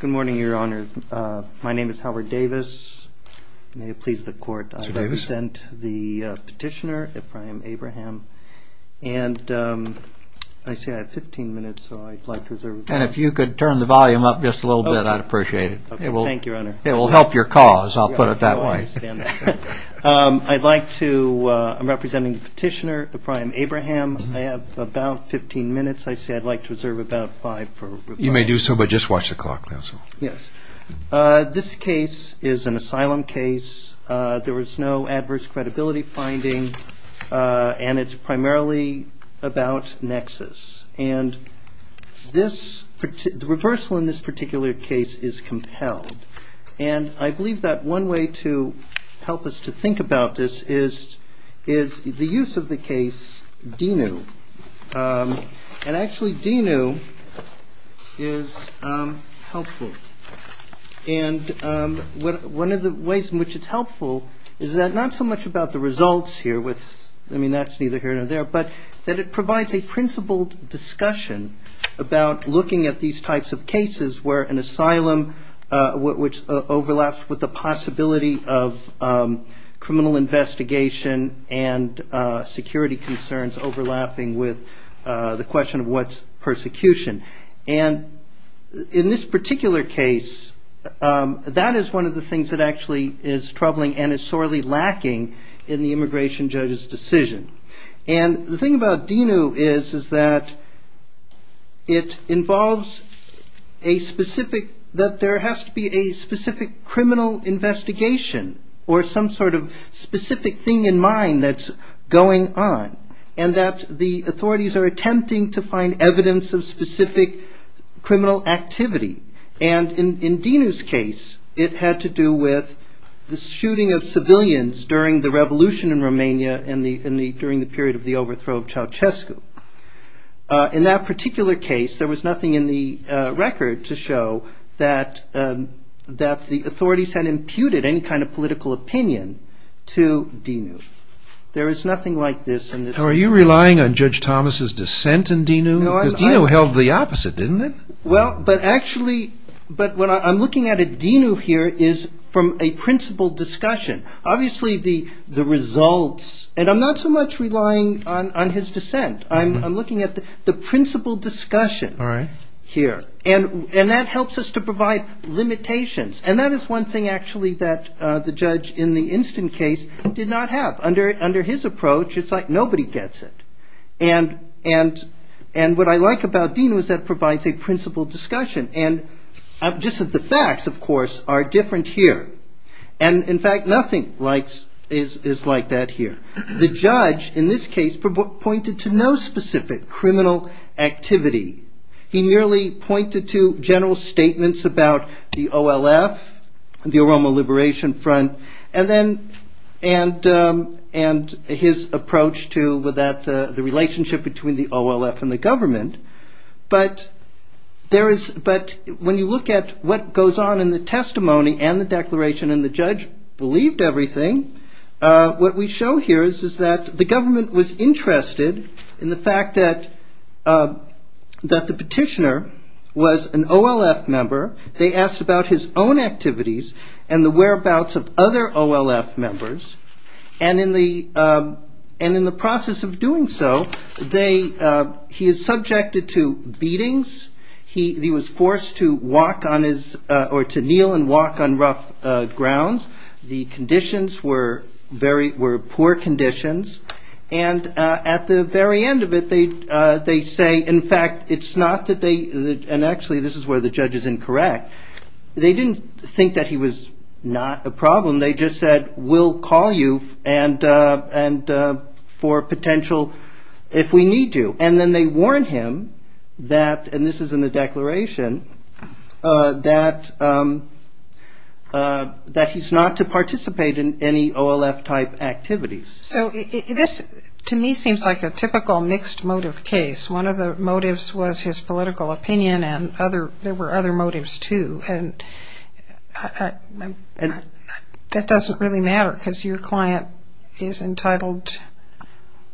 Good morning, Your Honor. My name is Howard Davis. May it please the Court, I present the petitioner, Ephraim Abraham. And I see I have 15 minutes, so I'd like to reserve it. And if you could turn the volume up just a little bit, I'd appreciate it. Okay, thank you, Your Honor. It will help your cause, I'll put it that way. I'd like to, I'm representing the petitioner, Ephraim Abraham. I have about 15 minutes. I see I'd like to reserve about five for rebuttal. You may do so, but just watch the clock, counsel. Yes. This case is an asylum case. There was no adverse credibility finding, and it's primarily about nexus. And the reversal in this particular case is compelled. And I believe that one way to help us to think about this is the use of the case DENU. And actually, DENU is helpful. And one of the ways in which it's helpful is that not so much about the results here with, I mean, that's neither here nor there, but that it provides a principled discussion about looking at these types of cases where an asylum, which overlaps with the possibility of criminal investigation and security concerns overlapping with the question of what's persecution. And in this particular case, that is one of the things that actually is troubling and sorely lacking in the immigration judge's decision. And the thing about DENU is that it involves a specific, that there has to be a specific criminal investigation or some sort of specific thing in mind that's going on and that the authorities are attempting to find evidence of specific criminal activity. And in DENU's case, it had to do with the civilians during the revolution in Romania and the, during the period of the overthrow of Ceaușescu. In that particular case, there was nothing in the record to show that the authorities had imputed any kind of political opinion to DENU. There is nothing like this in this case. Are you relying on Judge Thomas's dissent in DENU? Because DENU held the opposite, didn't it? Well, but actually, but what I'm looking at at DENU here is from a principled discussion. Obviously the results, and I'm not so much relying on his dissent. I'm looking at the principled discussion here. And that helps us to provide limitations. And that is one thing actually that the judge in the instant case did not have. Under his approach, it's like nobody gets it. And what I like about DENU is that it provides a principled discussion. And just as the facts, of course, are different here. And in fact, nothing is like that here. The judge in this case pointed to no specific criminal activity. He merely pointed to general approach to the relationship between the OLF and the government. But when you look at what goes on in the testimony and the declaration, and the judge believed everything, what we show here is that the government was interested in the fact that the petitioner was an OLF member. They asked about his own activities and the whereabouts of other OLF members. And in the process of doing so, he is subjected to beatings. He was forced to kneel and walk on rough grounds. The conditions were poor conditions. And at the very end of it, they say, in fact, it's not that they, and actually this is where the judge is incorrect, they didn't think that he was not a problem. They just said, we'll call you and for potential, if we need to. And then they warned him that, and this is in the declaration, that he's not to participate in any OLF type activities. So this, to me, seems like a typical mixed motive case. One of the motives was his political opinion, and there were other motives too. That doesn't really matter, because your client is entitled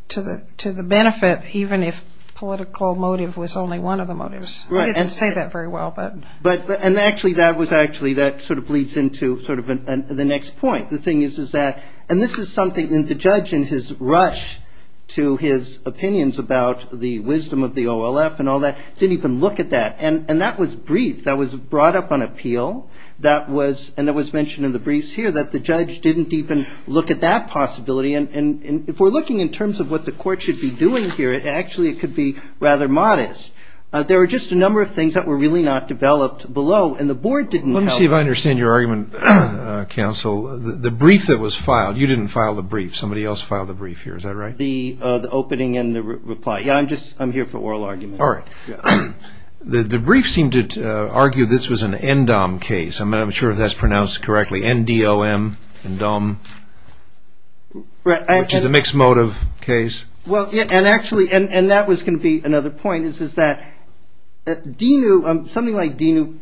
to the benefit, even if political motive was only one of the motives. We didn't say that very well. But, and actually, that was actually, that sort of leads into sort of the next point. The thing is, is that, and this is something that the judge in his rush to his opinions about the wisdom of the OLF and all that, didn't even look at that. And that was brief. That was brought up on appeal. That was, and it was mentioned in the briefs here, that the judge didn't even look at that possibility. And if we're looking in terms of what the court should be doing here, actually it could be rather modest. There were just a number of things that were really not developed below, and the board didn't help. Let me see if I understand your argument, counsel. The brief that was filed, you didn't file the brief. Somebody else filed the brief here, is that right? The opening and the reply. Yeah, I'm just, I'm here for oral argument. All right. The brief seemed to argue this was an NDOM case. I'm not even sure if that's pronounced correctly, N-D-O-M, N-DOM, which is a mixed motive case. Well, and actually, and that was going to be another point, is that DENU, something like DENU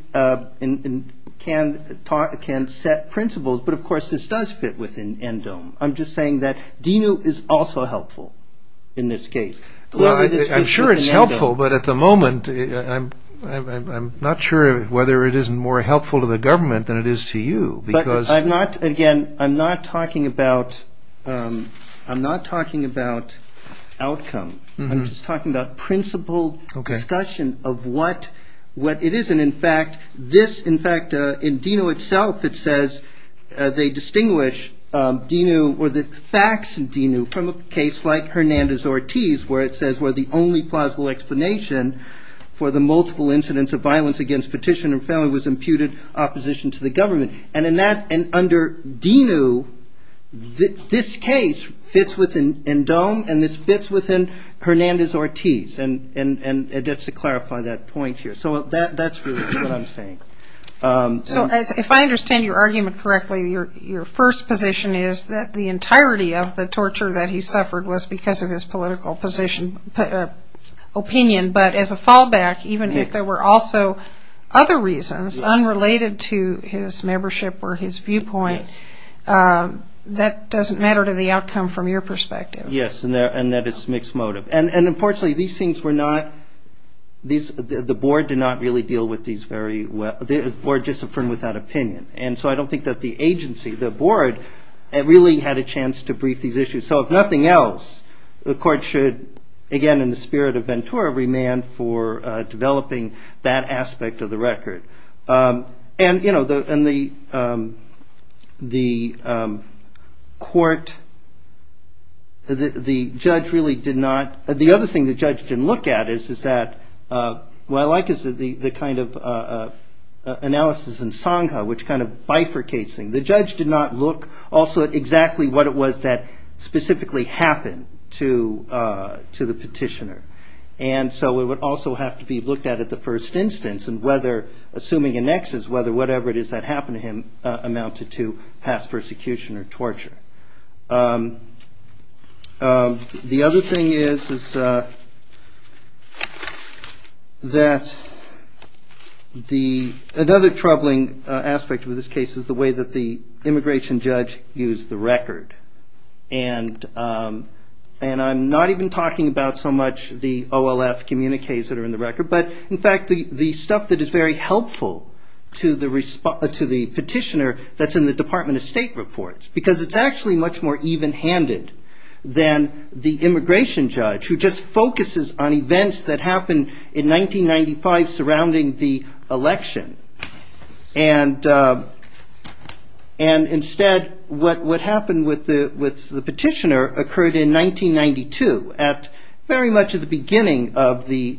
can talk, can set principles, but of course this does fit within NDOM. I'm just not sure if it's more helpful in this case. Well, I'm sure it's helpful, but at the moment I'm not sure whether it is more helpful to the government than it is to you, because I'm not, again, I'm not talking about, I'm not talking about outcome. I'm just talking about principle discussion of what it is. And in fact, this, in fact, in DENU itself it says they distinguish DENU or the facts of DENU from a case like Hernandez-Ortiz, where it says where the only plausible explanation for the multiple incidents of violence against petitioner family was imputed opposition to the government. And in that, and under DENU, this case fits within NDOM and this fits within Hernandez-Ortiz. And just to clarify that point here. So that's really what I'm saying. So if I understand your argument correctly, your first position is that the entirety of the torture that he suffered was because of his political position, opinion, but as a fallback, even if there were also other reasons unrelated to his membership or his viewpoint, that doesn't matter to the outcome from your point of view. The board did not really deal with these very well. The board just affirmed without opinion. And so I don't think that the agency, the board, really had a chance to brief these issues. So if nothing else, the court should, again, in the spirit of Ventura, remand for developing that aspect of the record. And the court, the judge really did not, the other thing the judge didn't look at is that, what I like is that the kind of analysis in SONGA, which kind of bifurcates things, the judge did not look also at exactly what it was that specifically happened to the petitioner. And so it would also have to be looked at at the first instance and whether, assuming annexes, whether whatever it is that happened to him is that the, another troubling aspect of this case is the way that the immigration judge used the record. And I'm not even talking about so much the OLF communiques that are in the record, but in fact the stuff that is very helpful to the petitioner that's in the Department of State reports. Because it's actually much more even-handed than the immigration judge who just focuses on events that happened in 1995 surrounding the election. And instead what happened with the petitioner occurred in 1992 at very much at the beginning of the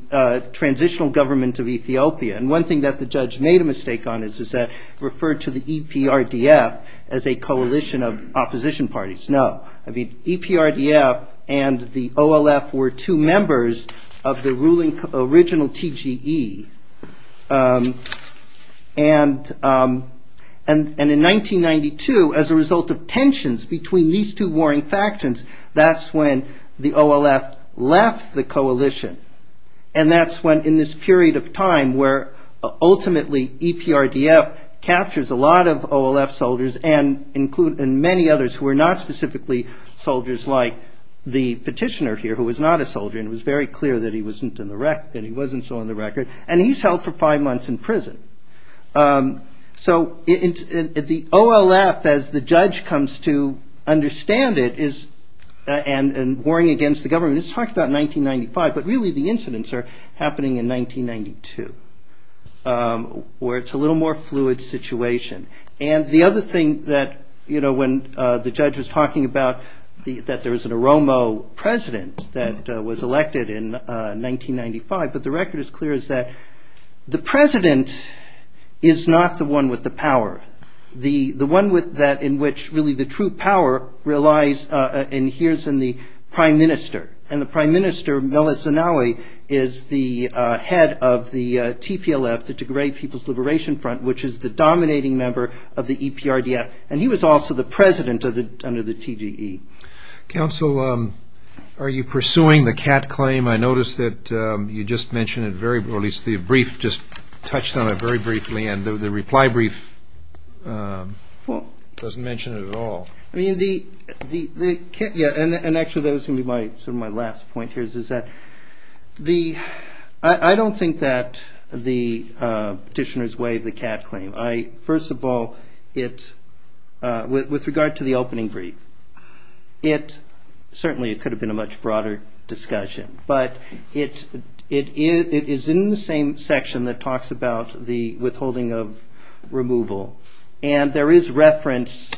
transitional government of Ethiopia. And one thing that the judge made a mistake on is that referred to the EPRDF as a coalition of opposition parties. No, I mean EPRDF and the OLF were two members of the ruling original TGE. And in 1992, as a result of tensions between these two warring factions, that's when the OLF left the coalition. And that's when in this period of time where ultimately EPRDF captures a lot of OLF soldiers and include many others who are not specifically soldiers like the petitioner here, who was not a soldier. And it was very clear that he wasn't on the record. And he's held for five months in prison. So the OLF, as the judge comes to understand it, and warring against the government, it's talked about 1995, but really the incidents are happening in 1992, where it's a little more fluid situation. And the other thing that, you know, when the judge was talking about that there was an Oromo president that was elected in 1995, but the record is clear is that the president is not the one with the power. The one with that in which really the true power relies, and here's in the prime minister. And the prime minister, Melissa Nowey, is the head of the TPLF, the Tigray People's Liberation Front, which is the dominating member of the EPRDF. And he was also the president under the TGE. Counsel, are you pursuing the cat claim? I noticed that you just mentioned it very, or at least the brief just touched on it very briefly, and the reply brief doesn't mention it at all. I mean, the, yeah, and actually that was going to be my, sort of my last point here is that the, I don't think that the petitioners waive the cat claim. I, first of all, it, with regard to the opening brief, it certainly, it could have been a much broader discussion, but it is in the same section that talks about the withholding of removal. And there is reference,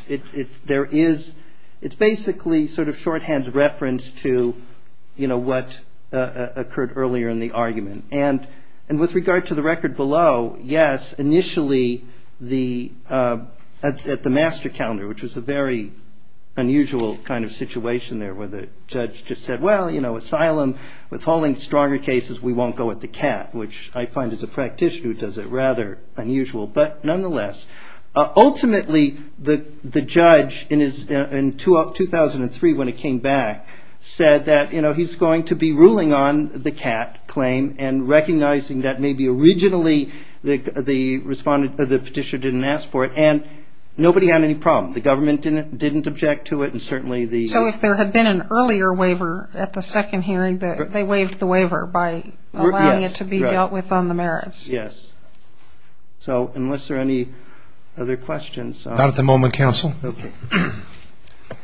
there is, it's basically sort of shorthand reference to, you know, what occurred earlier in the argument. And, and with regard to the record below, yes, initially the, at the master calendar, which was a very unusual kind of situation there where the judge just said, well, you know, asylum, withholding stronger cases, we won't go with the cat, which I find as a said that, you know, he's going to be ruling on the cat claim and recognizing that maybe originally the, the respondent, the petitioner didn't ask for it and nobody had any problem. The government didn't, didn't object to it. And certainly the, so if there had been an earlier waiver at the second hearing that they waived the waiver by allowing it to be dealt with on the merits. Yes. So unless there are any other questions, not at the moment, counsel,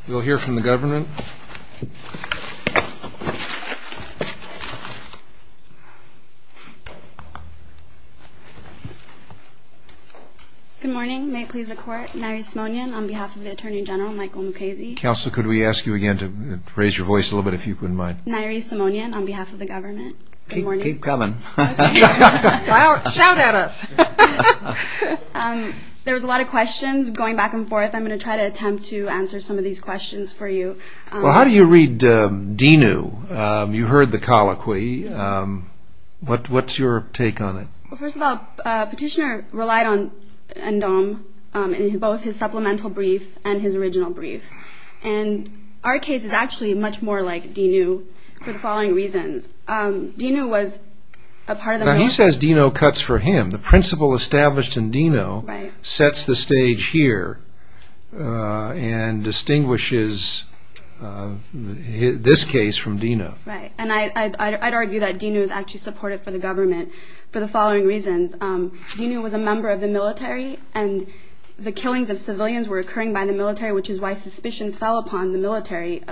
we'll hear from the government. Good morning. May it please the court. Nairi Simonian on behalf of the attorney general, Michael Mukasey. Counselor, could we ask you again to raise your voice a little bit, if you wouldn't mind. Nairi Simonian on behalf of the government. Keep coming. Shout at us. There was a lot of questions going back and forth. I'm going to try to attempt to answer some of these questions for you. Well, how do you read DINU? You heard the colloquy. What, what's your take on it? First of all, petitioner relied on NDOM in both his supplemental brief and his original brief. And our case is actually much more like DINU for the following reasons. DINU was a part of the... Now, he says DINU cuts for him. The principle established in DINU sets the stage here and distinguishes this case from DINU. Right. And I'd argue that DINU is actually supported for the government for the following reasons. DINU was a member of the military and the killings of civilians were occurring by the military, which is why suspicion fell upon the military.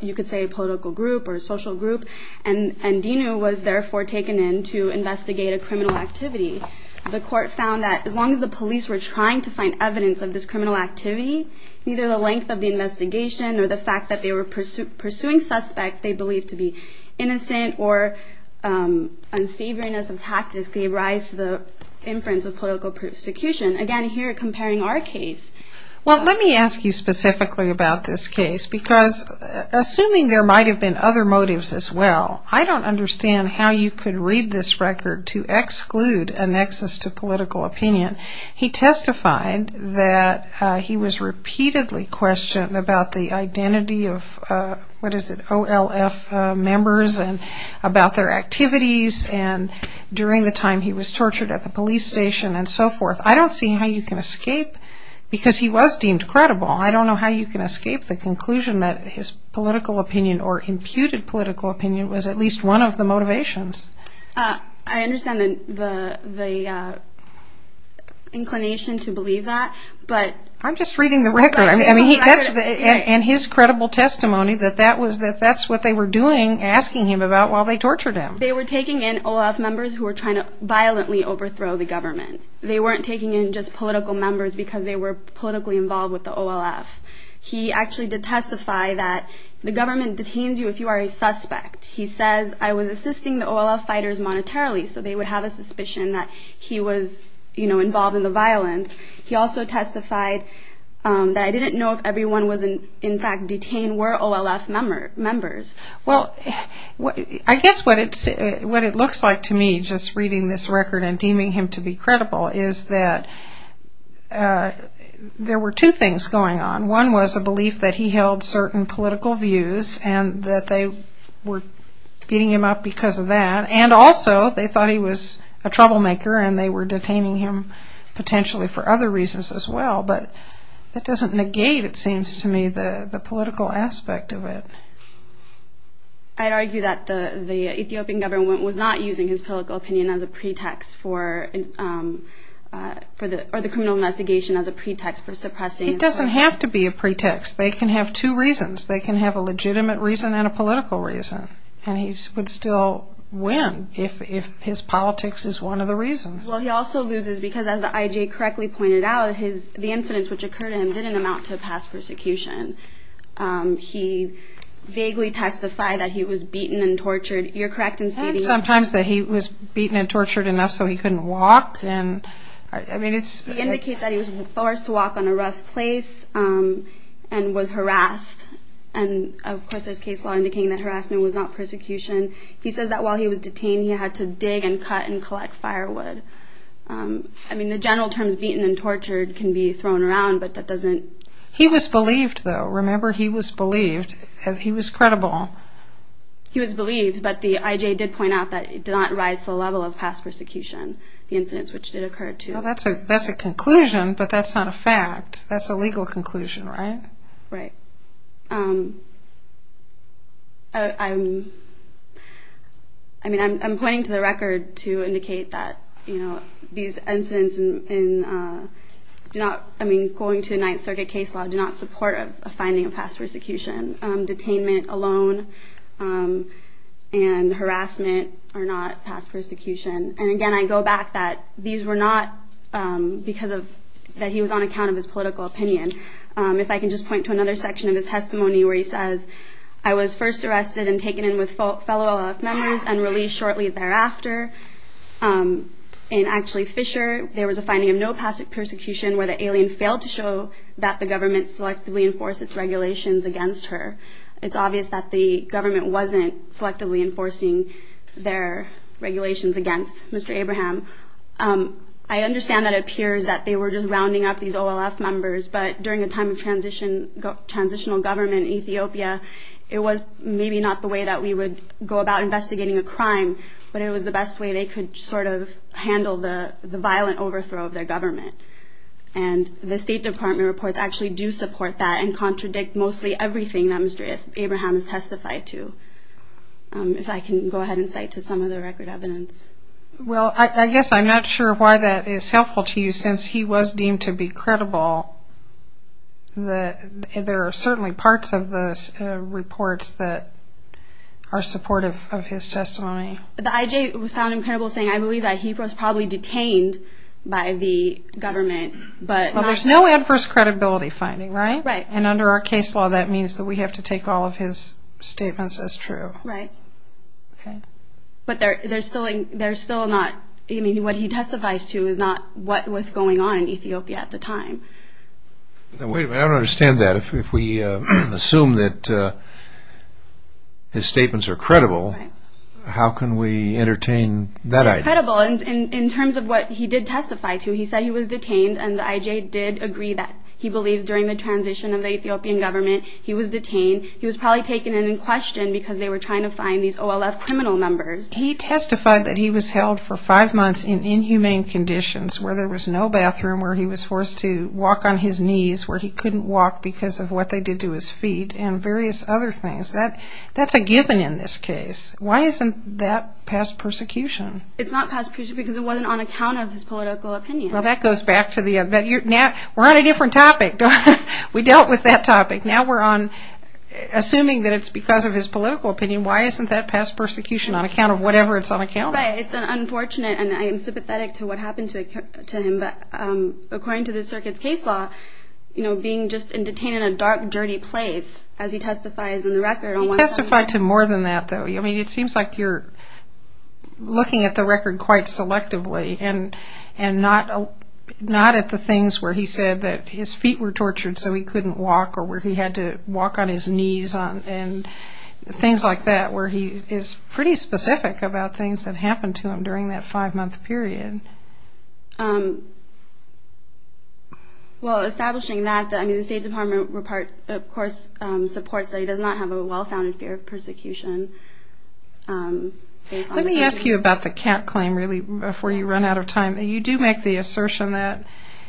You could say a political group or a social group. And DINU was therefore taken in to investigate a criminal activity. The court found that as long as the police were trying to find evidence of this criminal activity, neither the length of the investigation or the fact that they were pursuing suspects they believed to be innocent or unsavoryness of tactics gave rise to the inference of political prosecution. Again, here comparing our case. Well, let me ask you specifically about this case because assuming there might have been other motives as well, I don't understand how you could read this record to exclude a nexus to political opinion. He testified that he was repeatedly questioned about the identity of what is it, OLF members and about their activities and during the time he was tortured at the police station and so forth. I don't see how you can escape because he was deemed credible. I don't know how you can escape the conclusion that his political opinion or imputed political opinion was at least one of the motivations. I understand the inclination to believe that but... I'm just reading the record. And his credible testimony that that's what they were doing, asking him about while they tortured him. They were taking in OLF members who were trying to violently overthrow the government. They weren't taking in just political members because they were politically involved with the OLF. He actually did testify that the government detains you if you are a suspect. He says I was assisting the OLF fighters monetarily, so they would have a suspicion that he was, you know, involved in the violence. He also testified that I didn't know if everyone was in fact detained were OLF members. Well, I guess what it's what it looks like to me just reading this record and deeming him to be credible is that there were two things going on. One was a belief that he held certain political views and that they were beating him up because of that and also they thought he was a troublemaker and they were detaining him potentially for other reasons as well, but that doesn't negate it seems to me the the political aspect of it. I'd argue that the Ethiopian government was not using his political opinion as a pretext for the criminal investigation as a pretext for suppressing. It doesn't have to be a pretext. They can have two reasons. They can have a legitimate reason and a political reason and he would still win if his politics is one of the reasons. Well, he also loses because as the IJ correctly pointed out, the incidents which occurred to him didn't amount to a past persecution. He vaguely testified that he was beaten and tortured. You're correct in stating that he was beaten and tortured enough so he couldn't walk and I mean it's he indicates that he was forced to walk on a rough place and was harassed and of course, there's case law indicating that harassment was not persecution. He says that while he was detained he had to dig and cut and collect firewood. I mean the general terms beaten and tortured can be thrown around but that doesn't... He was believed though. Remember he was believed. He was credible. He was believed but the IJ did point out that it did not rise to the level of past persecution. The incidents which did occur to him. That's a conclusion, but that's not a fact. That's a legal conclusion, right? Right. I mean I'm pointing to the record to indicate that you know these incidents and do not, I mean going to the Ninth Circuit case law, do not support a finding of past persecution. Detainment alone and harassment are not past persecution and again, I go back that these were not because of that he was on account of his political opinion. If I can just point to another section of his testimony where he says, I was first arrested and taken in with fellow members and released shortly thereafter. And actually Fisher, there was a finding of no past persecution where the alien failed to show that the government selectively enforced its regulations against her. It's obvious that the government wasn't selectively enforcing their regulations against Mr. Abraham. I understand that it appears that they were just rounding up these OLF members, but during a time of transition, transitional government in Ethiopia, it was maybe not the way that we would go about investigating a crime, but it was the best way they could sort of handle the the violent overthrow of their government and the State Department reports actually do support that and contradict mostly everything that Mr. Abraham has testified to. If I can go ahead and cite to some of the record evidence. Well, I guess I'm not sure why that is helpful to you since he was deemed to be credible. There are certainly parts of those reports that are supportive of his testimony. The IJ found him credible saying, I believe that he was probably detained by the government, but there's no adverse credibility finding, right? Right. And under our case law, that means that we have to take all of his statements as true. Right. Okay. But they're still not, I mean what he testifies to is not what was going on in Ethiopia at the time. Now wait a minute, I don't understand that. If we assume that his statements are credible, how can we entertain that idea? Credible in terms of what he did testify to. He said he was detained and the IJ did agree that he believes during the transition of the Ethiopian government he was detained. He was probably taken in in question because they were trying to find these OLF criminal members. He testified that he was held for five months in inhumane conditions where there was no bathroom, where he was forced to walk on his knees, where he couldn't walk because of what they did to his feet, and various other things. That's a given in this case. Why isn't that past persecution? It's not past persecution because it wasn't on account of his political opinion. Well, that goes back to the, now we're on a different topic. We dealt with that topic. Now we're on assuming that it's because of his political opinion. Why isn't that past persecution on account of whatever it's on account of? It's unfortunate and I am sympathetic to what happened to him, but according to the circuit's case law, you know, being just detained in a dark, dirty place as he testifies in the record. He testified to more than that though. I mean, it seems like you're looking at the record quite selectively and and not not at the things where he said that his feet were tortured so he couldn't walk or where he had to walk on his knees and things like that where he is pretty specific about things that happened to him during that five-month period. Well, establishing that, I mean, the State Department, of course, supports that he does not have a well-founded fear of persecution. Let me ask you about the cat claim really before you run out of time. You do make the assertion that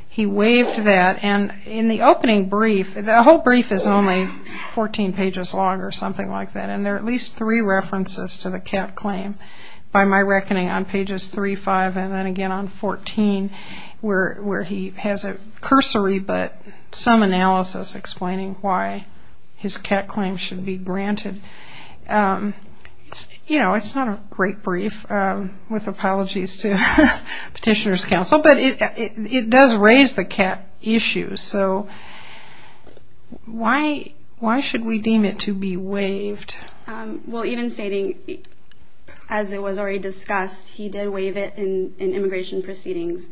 he waived that and in the opening brief, the whole brief is only 14 pages long or something like that, and there are at least three references to the cat claim by my reckoning on pages 3, 5, and then again on 14 where he has a cursory but some analysis explaining why his cat claim should be granted. You know, it's not a great brief with apologies to Petitioners Council, but it does raise the cat issue, so why should we deem it to be waived? Well, even stating, as it was already discussed, he did waive it in immigration proceedings.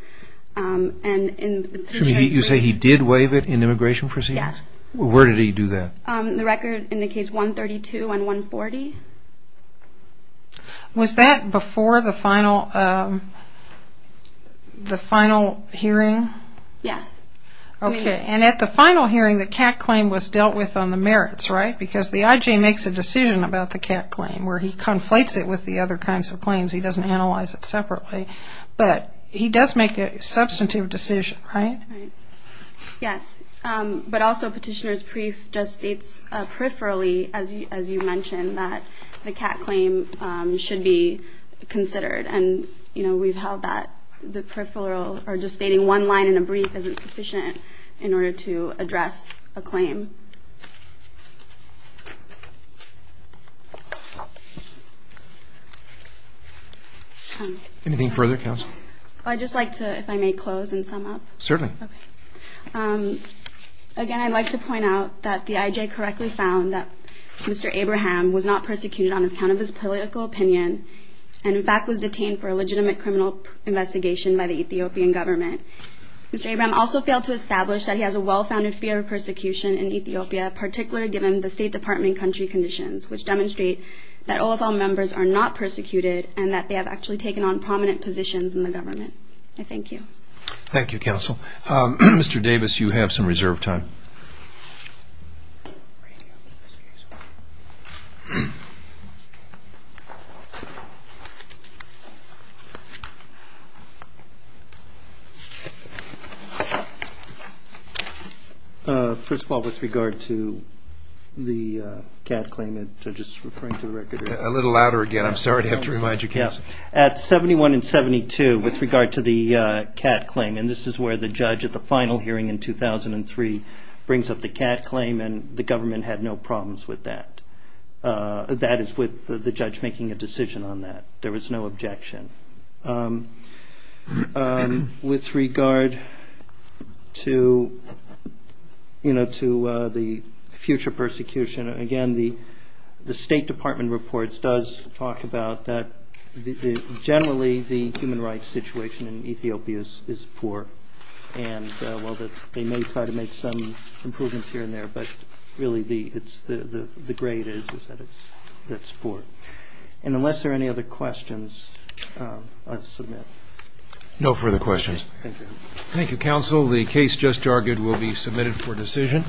You say he did waive it in immigration proceedings? Yes. Where did he do that? The record indicates 132 and 140. Was that before the final hearing? Yes. Okay, and at the final hearing the cat claim was dealt with on the merits, right? Because the IJ makes a decision about the cat claim where he conflates it with the other kinds of claims. He doesn't analyze it separately, but he does make a substantive decision, right? Yes, but also Petitioner's brief just states peripherally, as you mentioned, that the cat claim should be considered, and you know, we've held that the peripheral or just stating one line in a brief isn't sufficient in order to address a claim. Anything further, Counselor? I'd just like to, if I may, close and sum up. Certainly. Again, I'd like to point out that the IJ correctly found that Mr. Abraham was not persecuted on account of his political opinion, and in fact was detained for a legitimate criminal investigation by the Ethiopian government. Mr. Abraham also failed to establish that he has a well-founded fear of persecution in Ethiopia, particularly given the State Department country conditions, which demonstrate that OFL members are not persecuted and that they have actually taken on prominent positions in the government. I thank you. Thank you, Counsel. Mr. Davis, you have some reserve time. First of all, with regard to the cat claim, I'm just referring to the record. A little louder again. I'm sorry to have to remind you, Counselor. At 71 and 72, with regard to the cat claim, and this is where the judge at the final hearing in 2003 brings up the cat claim, and the government had no problems with that. That is with the judge making a decision on that. There was no objection. With regard to the future persecution, again, the State Department reports does talk about that generally the human rights situation in Ethiopia is poor. They may try to make some improvements here and there, but really the grade is that it's poor. Unless there are any other questions, I'll submit. No further questions. Thank you, Counsel. The case just argued will be submitted for decision.